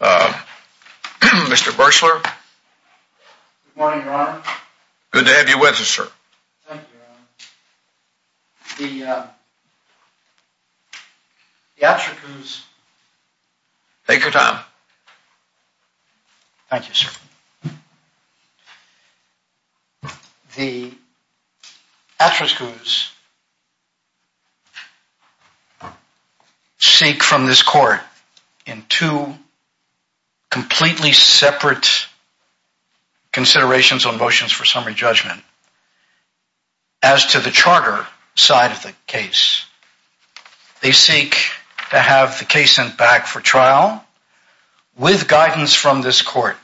Good morning, Your Honor. Good to have you with us, sir. Thank you, Your Honor. The Atsriku's Take your time. Thank you, sir. The Atsriku's seek from this court in two completely separate considerations on motions for summary judgment. As to the charter side of the case, they seek to have the case sent back for trial with guidance from this court.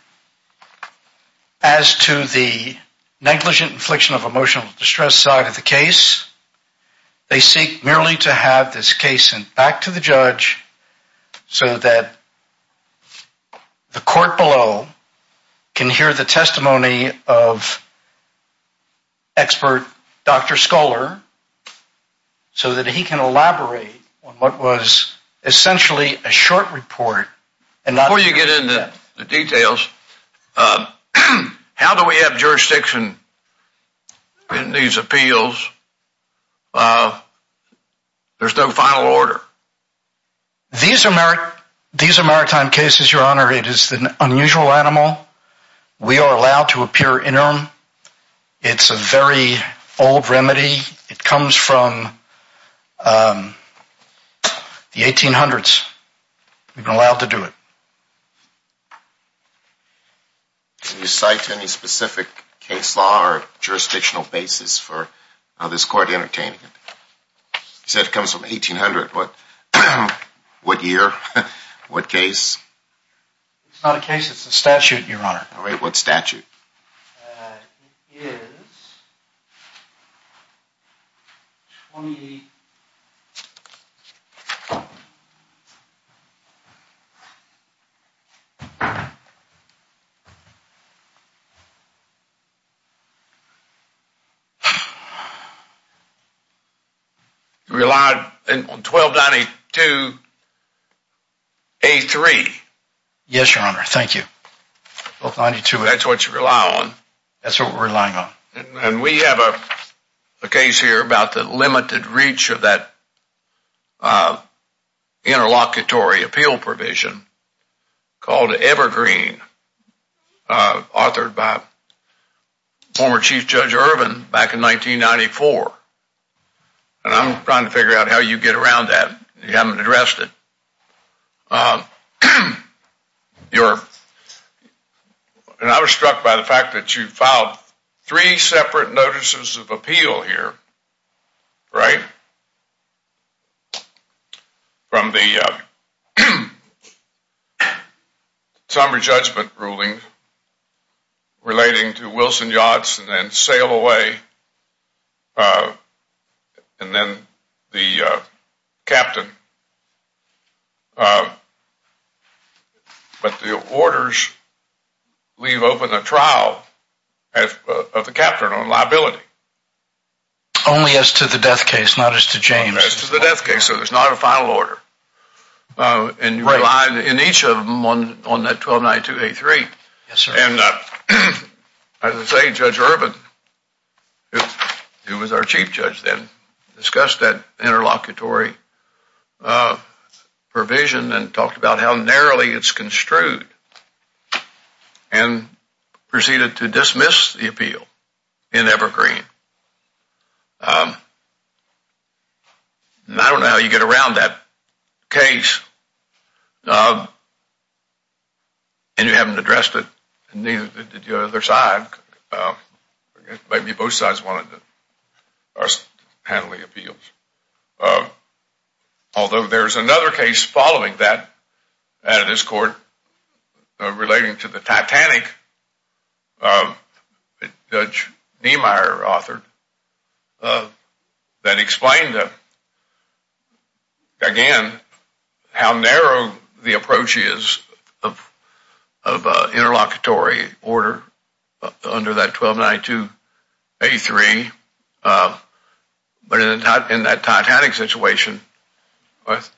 As to the negligent infliction of emotional distress side of the case, they seek merely to have this case sent back to the judge so that the court below can hear the testimony of expert Dr. Scholar so that he can elaborate on what was essentially a short report. Before you get into the details, how do we have jurisdiction in these appeals? There's no final order. These are maritime cases, Your Honor. It is an unusual animal. We are allowed to appear in them. It's a very old remedy. It comes from the 1800s. We've been allowed to do it. Can you cite any specific case law or jurisdictional basis for this court entertaining it? You said it comes from 1800. What year? What case? It's not a case. It's a statute, Your Honor. What statute? It is 20... You relied on 1292A3. Yes, Your Honor. Thank you. That's what you rely on. That's what we're relying on. And we have a case here about the limited reach of that interlocutory appeal provision called Evergreen, authored by former Chief Judge Irvin back in 1994. And I'm trying to figure out how you get around that. You haven't addressed it. Your Honor, I was struck by the fact that you filed three separate notices of appeal here, right? From the summary judgment ruling relating to Wilson Yachts and then sail away and then the captain. But the orders leave open a trial of the captain on liability. Only as to the death case, not as to James. As to the death case, so there's not a final order. Right. And you relied on each of them on that 1292A3. Yes, sir. As I say, Judge Irvin, who was our Chief Judge then, discussed that interlocutory provision and talked about how narrowly it's construed and proceeded to dismiss the appeal in Evergreen. And I don't know how you get around that case. And you haven't addressed it. Neither did the other side. Maybe both sides wanted our handling appeals. Although there's another case following that at this court relating to the Titanic that Judge Niemeyer authored that explained, again, how narrow the approach is of interlocutory order under that 1292A3. But in that Titanic situation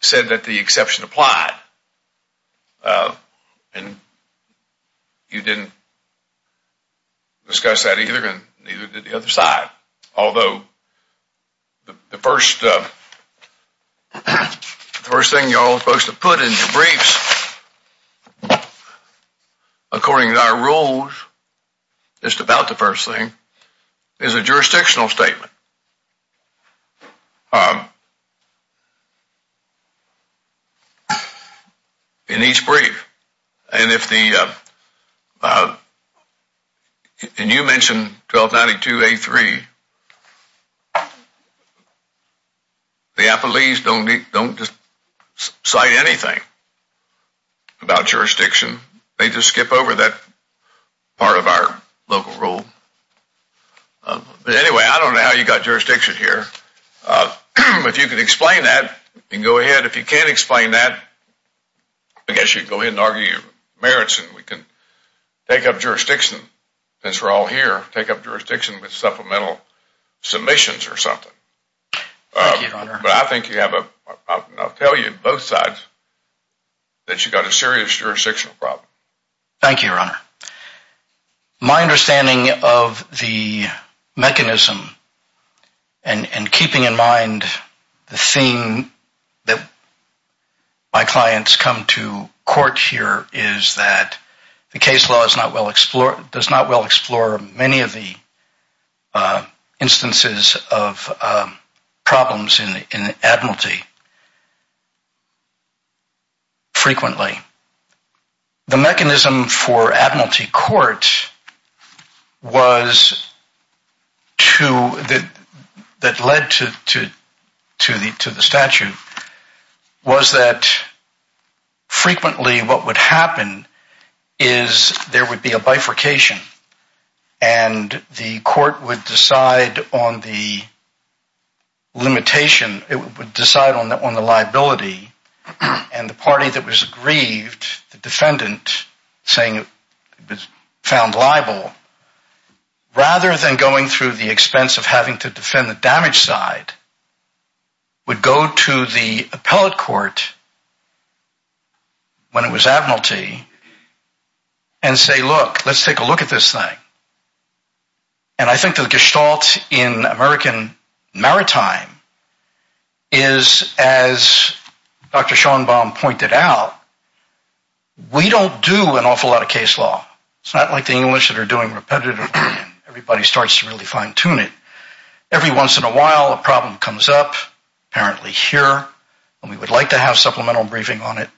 said that the exception applied. And you didn't discuss that either. And neither did the other side. Although the first thing you're all supposed to put in your briefs, according to our rules, just about the first thing, is a jurisdictional statement in each brief. And you mentioned 1292A3. The Appalachians don't cite anything about jurisdiction. They just skip over that part of our local rule. Anyway, I don't know how you got jurisdiction here. If you can explain that, you can go ahead. If you can't explain that, I guess you can go ahead and argue your merits and we can take up jurisdiction. Since we're all here, take up jurisdiction with supplemental submissions or something. Thank you, Your Honor. But I think you have a problem. And I'll tell you, both sides, that you've got a serious jurisdictional problem. Thank you, Your Honor. My understanding of the mechanism and keeping in mind the theme that my clients come to court here is that the case law does not well explore many of the instances of problems in admiralty frequently. The mechanism for admiralty court that led to the statute was that frequently what would happen is there would be a bifurcation. And the court would decide on the limitation. It would decide on the liability. And the party that was aggrieved, the defendant, saying it was found liable, rather than going through the expense of having to defend the damaged side, would go to the appellate court when it was admiralty and say, look, let's take a look at this thing. And I think the gestalt in American maritime is, as Dr. Schoenbaum pointed out, we don't do an awful lot of case law. It's not like the English that are doing repetitively and everybody starts to really fine-tune it. Every once in a while, a problem comes up, apparently here, and we would like to have supplemental briefing on it.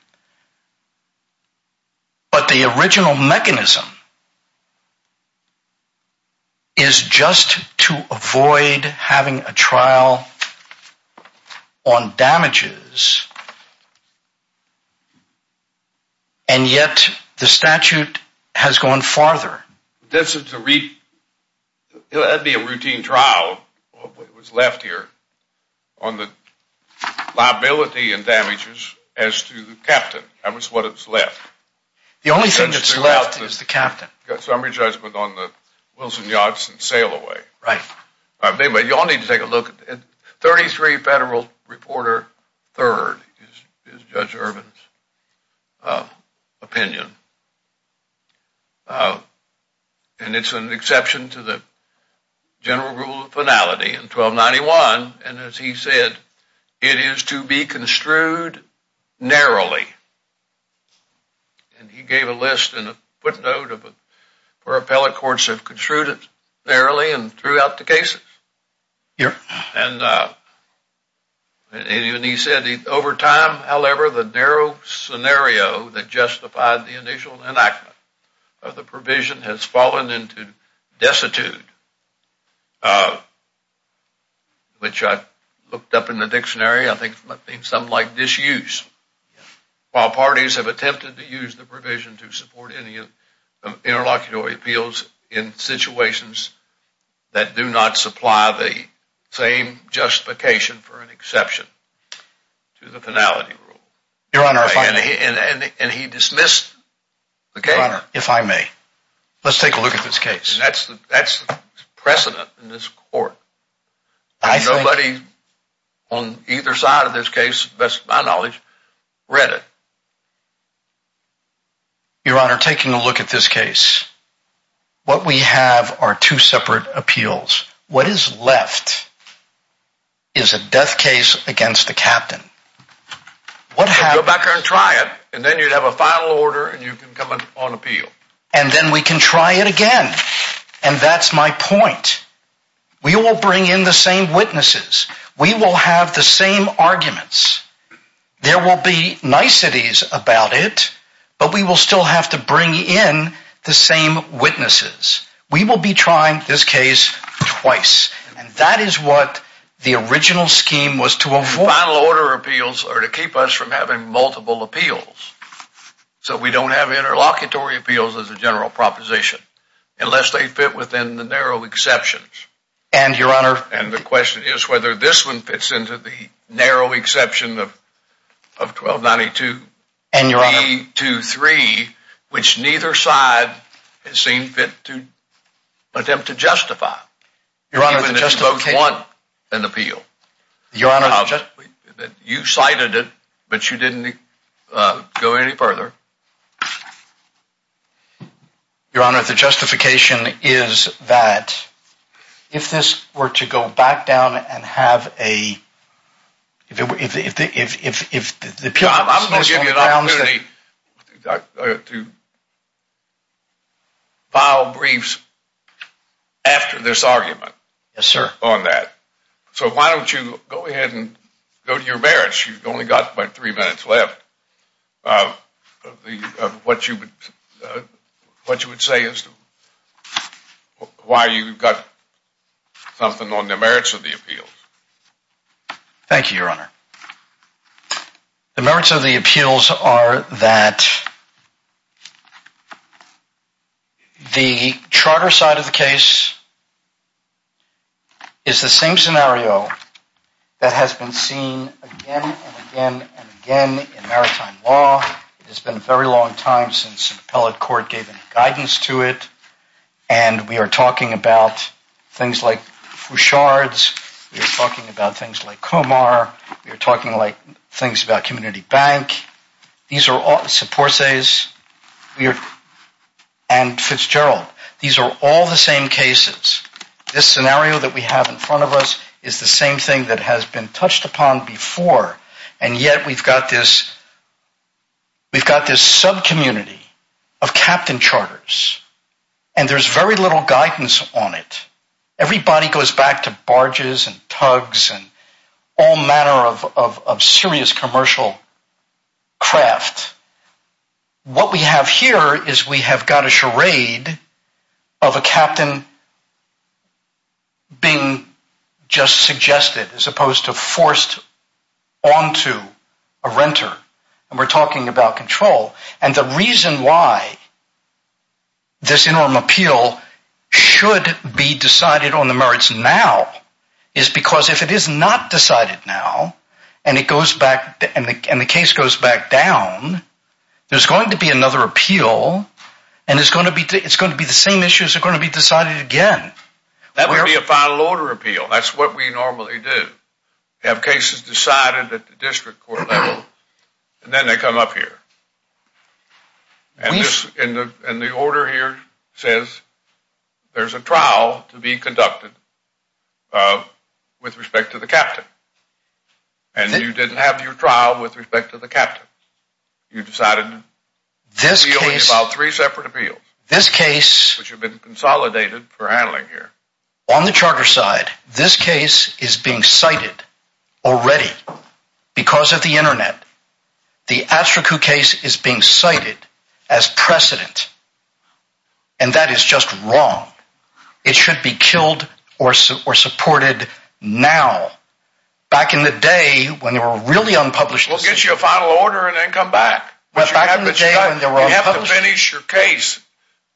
But the original mechanism is just to avoid having a trial on damages, and yet the statute has gone farther. That would be a routine trial, what was left here, on the liability and damages as to the captain. That was what was left. The only thing that's left is the captain. Summary judgment on the Wilson-Yodson sail away. Right. You all need to take a look. 33 federal reporter third is Judge Irvin's opinion, and it's an exception to the general rule of finality in 1291. And as he said, it is to be construed narrowly. And he gave a list and a footnote where appellate courts have construed it narrowly and threw out the cases. Yeah. And he said over time, however, the narrow scenario that justified the initial enactment of the provision has fallen into destitute, which I looked up in the dictionary, I think something like disuse. While parties have attempted to use the provision to support any interlocutory appeals in situations that do not supply the same justification for an exception to the finality rule. Your Honor, if I may. And he dismissed the case. Your Honor, if I may. Let's take a look at this case. That's the precedent in this court. Nobody on either side of this case, best of my knowledge, read it. Your Honor, taking a look at this case, what we have are two separate appeals. What is left is a death case against the captain. Go back there and try it, and then you'd have a final order, and you can come in on appeal. And then we can try it again. And that's my point. We will bring in the same witnesses. We will have the same arguments. There will be niceties about it, but we will still have to bring in the same witnesses. We will be trying this case twice. And that is what the original scheme was to avoid. Final order appeals are to keep us from having multiple appeals. So we don't have interlocutory appeals as a general proposition. Unless they fit within the narrow exceptions. And, Your Honor. And the question is whether this one fits into the narrow exception of 1292. And, Your Honor. 323, which neither side has seen fit to attempt to justify. Your Honor, the justification. Even if both want an appeal. Your Honor. You cited it, but you didn't go any further. Your Honor, the justification is that if this were to go back down and have a. I'm going to give you an opportunity to file briefs after this argument. Yes, sir. On that. So why don't you go ahead and go to your merits. You've only got about three minutes left. What you would say is why you've got something on the merits of the appeal. Thank you, Your Honor. The merits of the appeals are that. The charter side of the case is the same scenario that has been seen again and again and again in maritime law. It's been a very long time since appellate court gave any guidance to it. And we are talking about things like Fouchard's. We're talking about things like Comar. You're talking like things about community bank. These are all support says you're and Fitzgerald. These are all the same cases. This scenario that we have in front of us is the same thing that has been touched upon before. And yet we've got this. We've got this sub community of captain charters, and there's very little guidance on it. Everybody goes back to barges and tugs and all manner of serious commercial craft. What we have here is we have got a charade of a captain being just suggested as opposed to forced onto a renter. And we're talking about control. And the reason why this enormous appeal should be decided on the merits now is because if it is not decided now and it goes back and the case goes back down, there's going to be another appeal. And it's going to be it's going to be the same issues are going to be decided again. That would be a final order appeal. That's what we normally do. Have cases decided at the district court level. And then they come up here. And this in the order here says there's a trial to be conducted with respect to the captain. And you didn't have your trial with respect to the captain. You decided this is about three separate appeals. This case which have been consolidated for handling here on the charter side. This case is being cited already because of the Internet. The actual case is being cited as precedent. And that is just wrong. It should be killed or supported now. Back in the day when they were really unpublished. We'll get you a final order and then come back. But back in the day when they were published. You have to finish your case.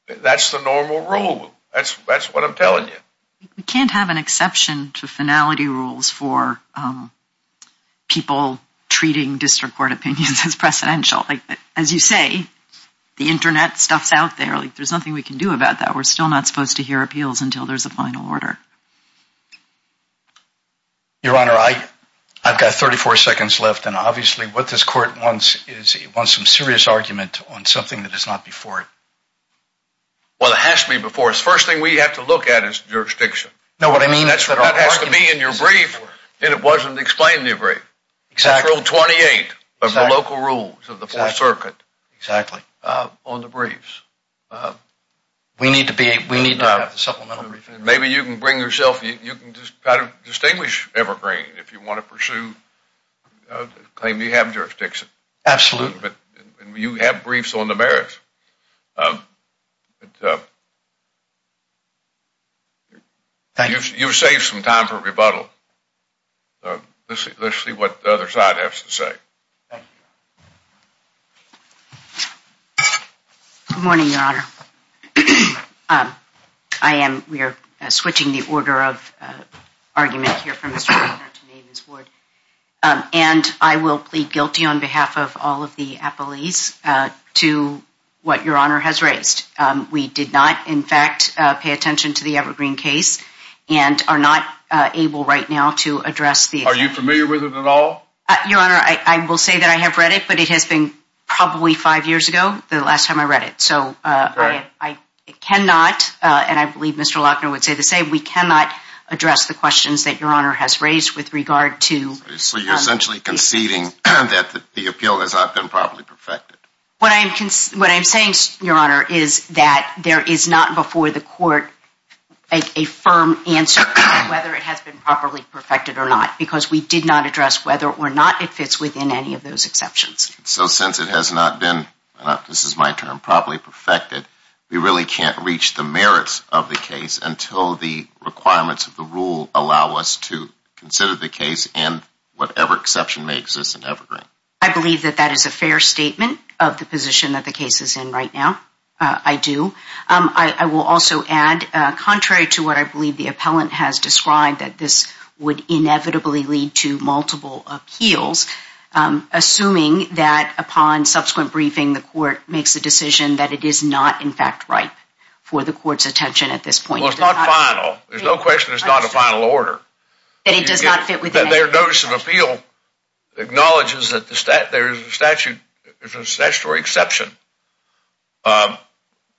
That's the normal rule. That's that's what I'm telling you. We can't have an exception to finality rules for people treating district court opinions as precedential. As you say, the Internet stuff's out there. There's nothing we can do about that. We're still not supposed to hear appeals until there's a final order. Your Honor, I've got 34 seconds left. And obviously what this court wants is some serious argument on something that is not before it. Well, it has to be before it. Well, the first thing we have to look at is jurisdiction. That has to be in your brief. And it wasn't explained in your brief. It's Rule 28 of the local rules of the Fourth Circuit. Exactly. On the briefs. We need to have a supplemental brief. Maybe you can bring yourself. You can just try to distinguish evergreen if you want to pursue a claim you have jurisdiction. Absolutely. You have briefs on the merits. Thank you. You've saved some time for rebuttal. Let's see what the other side has to say. Thank you, Your Honor. Good morning, Your Honor. We are switching the order of argument here from Mr. Weiner to Ms. Wood. And I will plead guilty on behalf of all of the appellees to what Your Honor has raised. We did not, in fact, pay attention to the evergreen case and are not able right now to address the. Are you familiar with it at all? Your Honor, I will say that I have read it, but it has been probably five years ago the last time I read it. I cannot, and I believe Mr. Lochner would say the same, we cannot address the questions that Your Honor has raised with regard to. So you're essentially conceding that the appeal has not been properly perfected. What I'm saying, Your Honor, is that there is not before the court a firm answer to whether it has been properly perfected or not. Because we did not address whether or not it fits within any of those exceptions. So since it has not been, this is my term, properly perfected, we really can't reach the merits of the case until the requirements of the rule allow us to consider the case in whatever exception may exist in evergreen. I believe that that is a fair statement of the position that the case is in right now. I do. I will also add, contrary to what I believe the appellant has described, that this would inevitably lead to multiple appeals, assuming that upon subsequent briefing the court makes a decision that it is not in fact right for the court's attention at this point. Well, it's not final. There's no question it's not a final order. That it does not fit within any of the exceptions. Their notice of appeal acknowledges that there is a statutory exception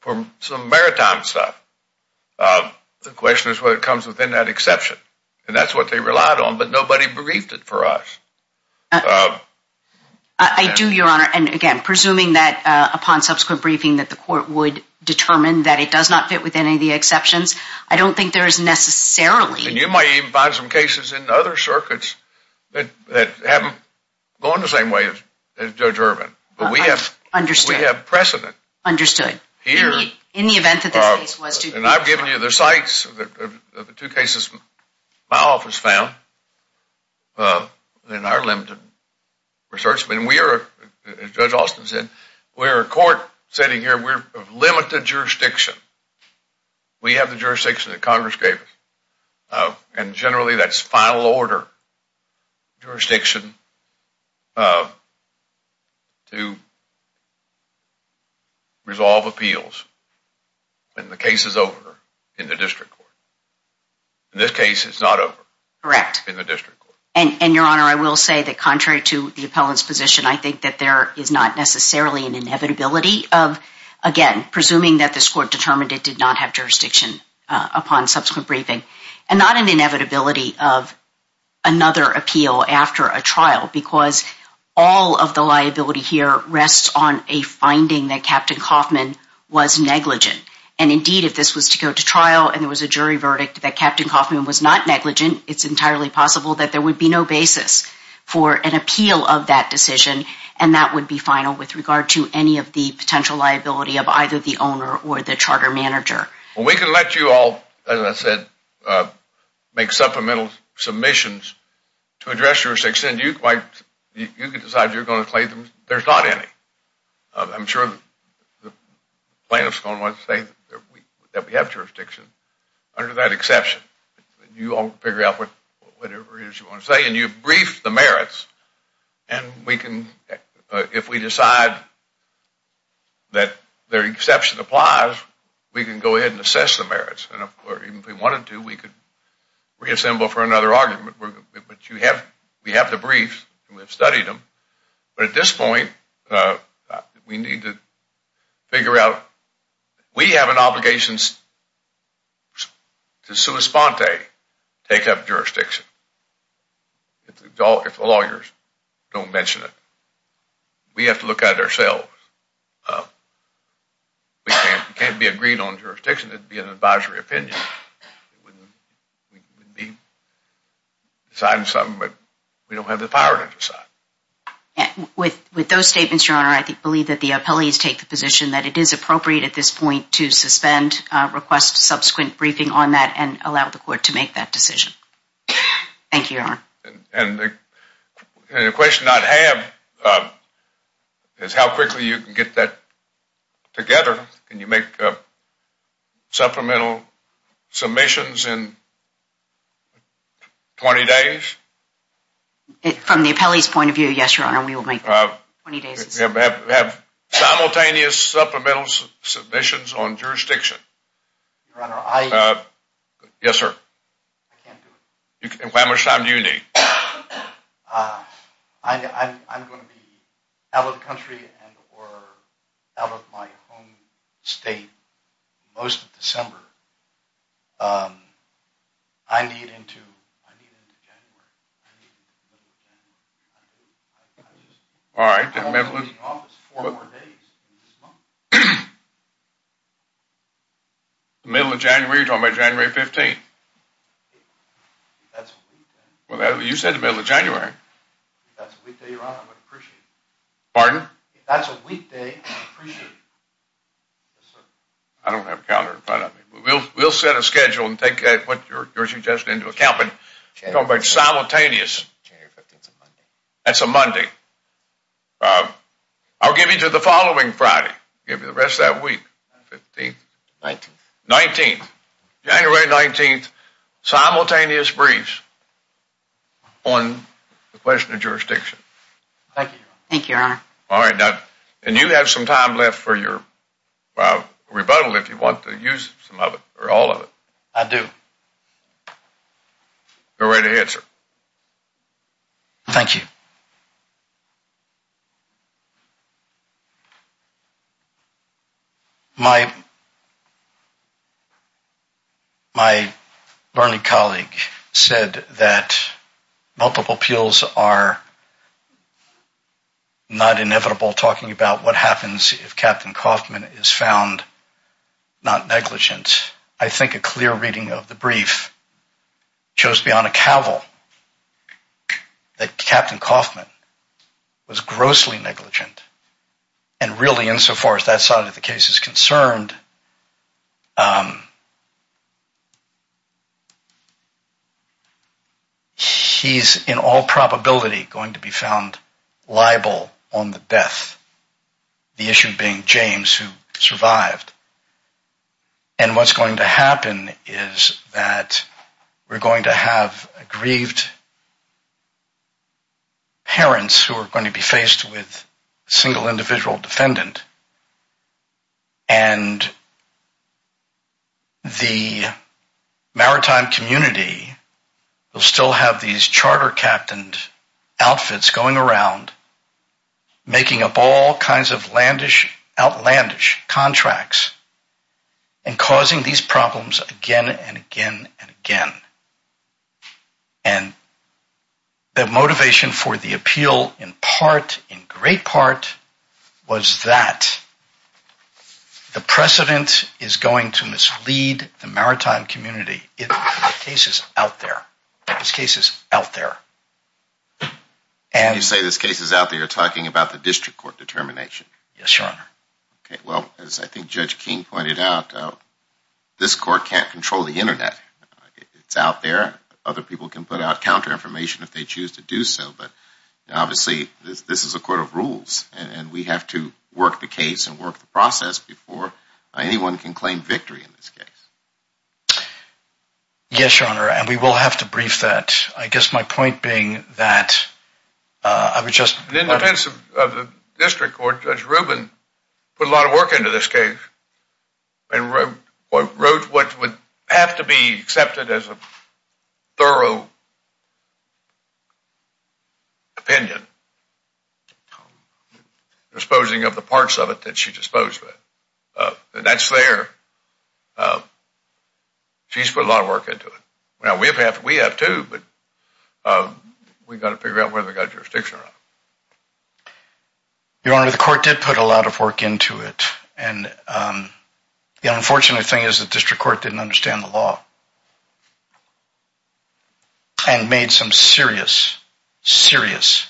for some maritime stuff. The question is whether it comes within that exception. And that's what they relied on, but nobody briefed it for us. I do, Your Honor, and again, presuming that upon subsequent briefing that the court would determine that it does not fit within any of the exceptions, I don't think there is necessarily... And you might even find some cases in other circuits that haven't gone the same way as Judge Ervin. Understood. But we have precedent. Understood. In the event that this case was to be... And I've given you the sites of the two cases my office found in our limited research. And we are, as Judge Austin said, we're a court sitting here. We have limited jurisdiction. We have the jurisdiction that Congress gave us. And generally that's final order jurisdiction to resolve appeals when the case is over in the district court. In this case, it's not over. Correct. In the district court. And, Your Honor, I will say that contrary to the appellant's position, I think that there is not necessarily an inevitability of, again, presuming that this court determined it did not have jurisdiction upon subsequent briefing. And not an inevitability of another appeal after a trial. Because all of the liability here rests on a finding that Captain Kaufman was negligent. And, indeed, if this was to go to trial and there was a jury verdict that Captain Kaufman was not negligent, it's entirely possible that there would be no basis for an appeal of that decision. And that would be final with regard to any of the potential liability of either the owner or the charter manager. Well, we can let you all, as I said, make supplemental submissions to address jurisdiction. You can decide you're going to claim them. There's not any. I'm sure the plaintiffs are going to want to say that we have jurisdiction under that exception. You all can figure out whatever it is you want to say. And you've briefed the merits. And we can, if we decide that their exception applies, we can go ahead and assess the merits. And, of course, if we wanted to, we could reassemble for another argument. But you have, we have the briefs and we've studied them. But at this point, we need to figure out, we have an obligation to sua sponte, take up jurisdiction. If the lawyers don't mention it, we have to look at it ourselves. We can't be agreed on jurisdiction. It would be an advisory opinion. We would be deciding something, but we don't have the power to decide. With those statements, Your Honor, I believe that the appellees take the position that it is appropriate at this point to suspend, request subsequent briefing on that, and allow the court to make that decision. Thank you, Your Honor. And the question I have is how quickly you can get that together. Can you make supplemental submissions in 20 days? From the appellee's point of view, yes, Your Honor, we will make 20 days. Have simultaneous supplemental submissions on jurisdiction. Your Honor, I... Yes, sir. I can't do it. How much time do you need? I'm going to be out of the country and or out of my home state most of December. I need into, I need into January. I need into the middle of January. All right. Four more days in this month. The middle of January? You're talking about January 15th. That's a weekday. Well, you said the middle of January. If that's a weekday, Your Honor, I would appreciate it. Pardon? If that's a weekday, I would appreciate it. Yes, sir. I don't have a calendar in front of me. We'll set a schedule and take what you're suggesting into account, but talk about simultaneous. January 15th is a Monday. That's a Monday. I'll give you to the following Friday. I'll give you the rest of that week. 15th? 19th. 19th. January 19th, simultaneous briefs on the question of jurisdiction. Thank you, Your Honor. Thank you, Your Honor. All right. And you have some time left for your rebuttal if you want to use some of it or all of it. I do. Go right ahead, sir. Thank you. My learning colleague said that multiple appeals are not inevitable, talking about what happens if Captain Kaufman is found not negligent. I think a clear reading of the brief shows beyond a cavil that Captain Kaufman was grossly negligent and really insofar as that side of the case is concerned, he's in all probability going to be found liable on the death, the issue being James, who survived. And what's going to happen is that we're going to have grieved parents who are going to be faced with a single individual defendant and the maritime community will still have these charter-captained outfits going around, making up all kinds of outlandish contracts and causing these problems again and again and again. And the motivation for the appeal in part, in great part, was that the precedent is going to mislead the maritime community. The case is out there. This case is out there. When you say this case is out there, you're talking about the district court determination. Yes, Your Honor. Okay, well, as I think Judge King pointed out, this court can't control the Internet. It's out there. Other people can put out counter-information if they choose to do so, but obviously this is a court of rules and we have to work the case and work the process before anyone can claim victory in this case. Yes, Your Honor, and we will have to brief that. I guess my point being that I would just... The district court, Judge Rubin, put a lot of work into this case and wrote what would have to be accepted as a thorough opinion, disposing of the parts of it that she disposed of. That's fair. She's put a lot of work into it. We have to, but we've got to figure out whether we've got jurisdiction or not. Your Honor, the court did put a lot of work into it. The unfortunate thing is the district court didn't understand the law and made some serious, serious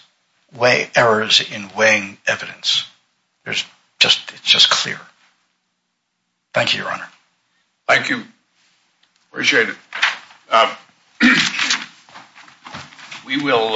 errors in weighing evidence. It's just clear. Thank you, Your Honor. Thank you. Appreciate it. We will...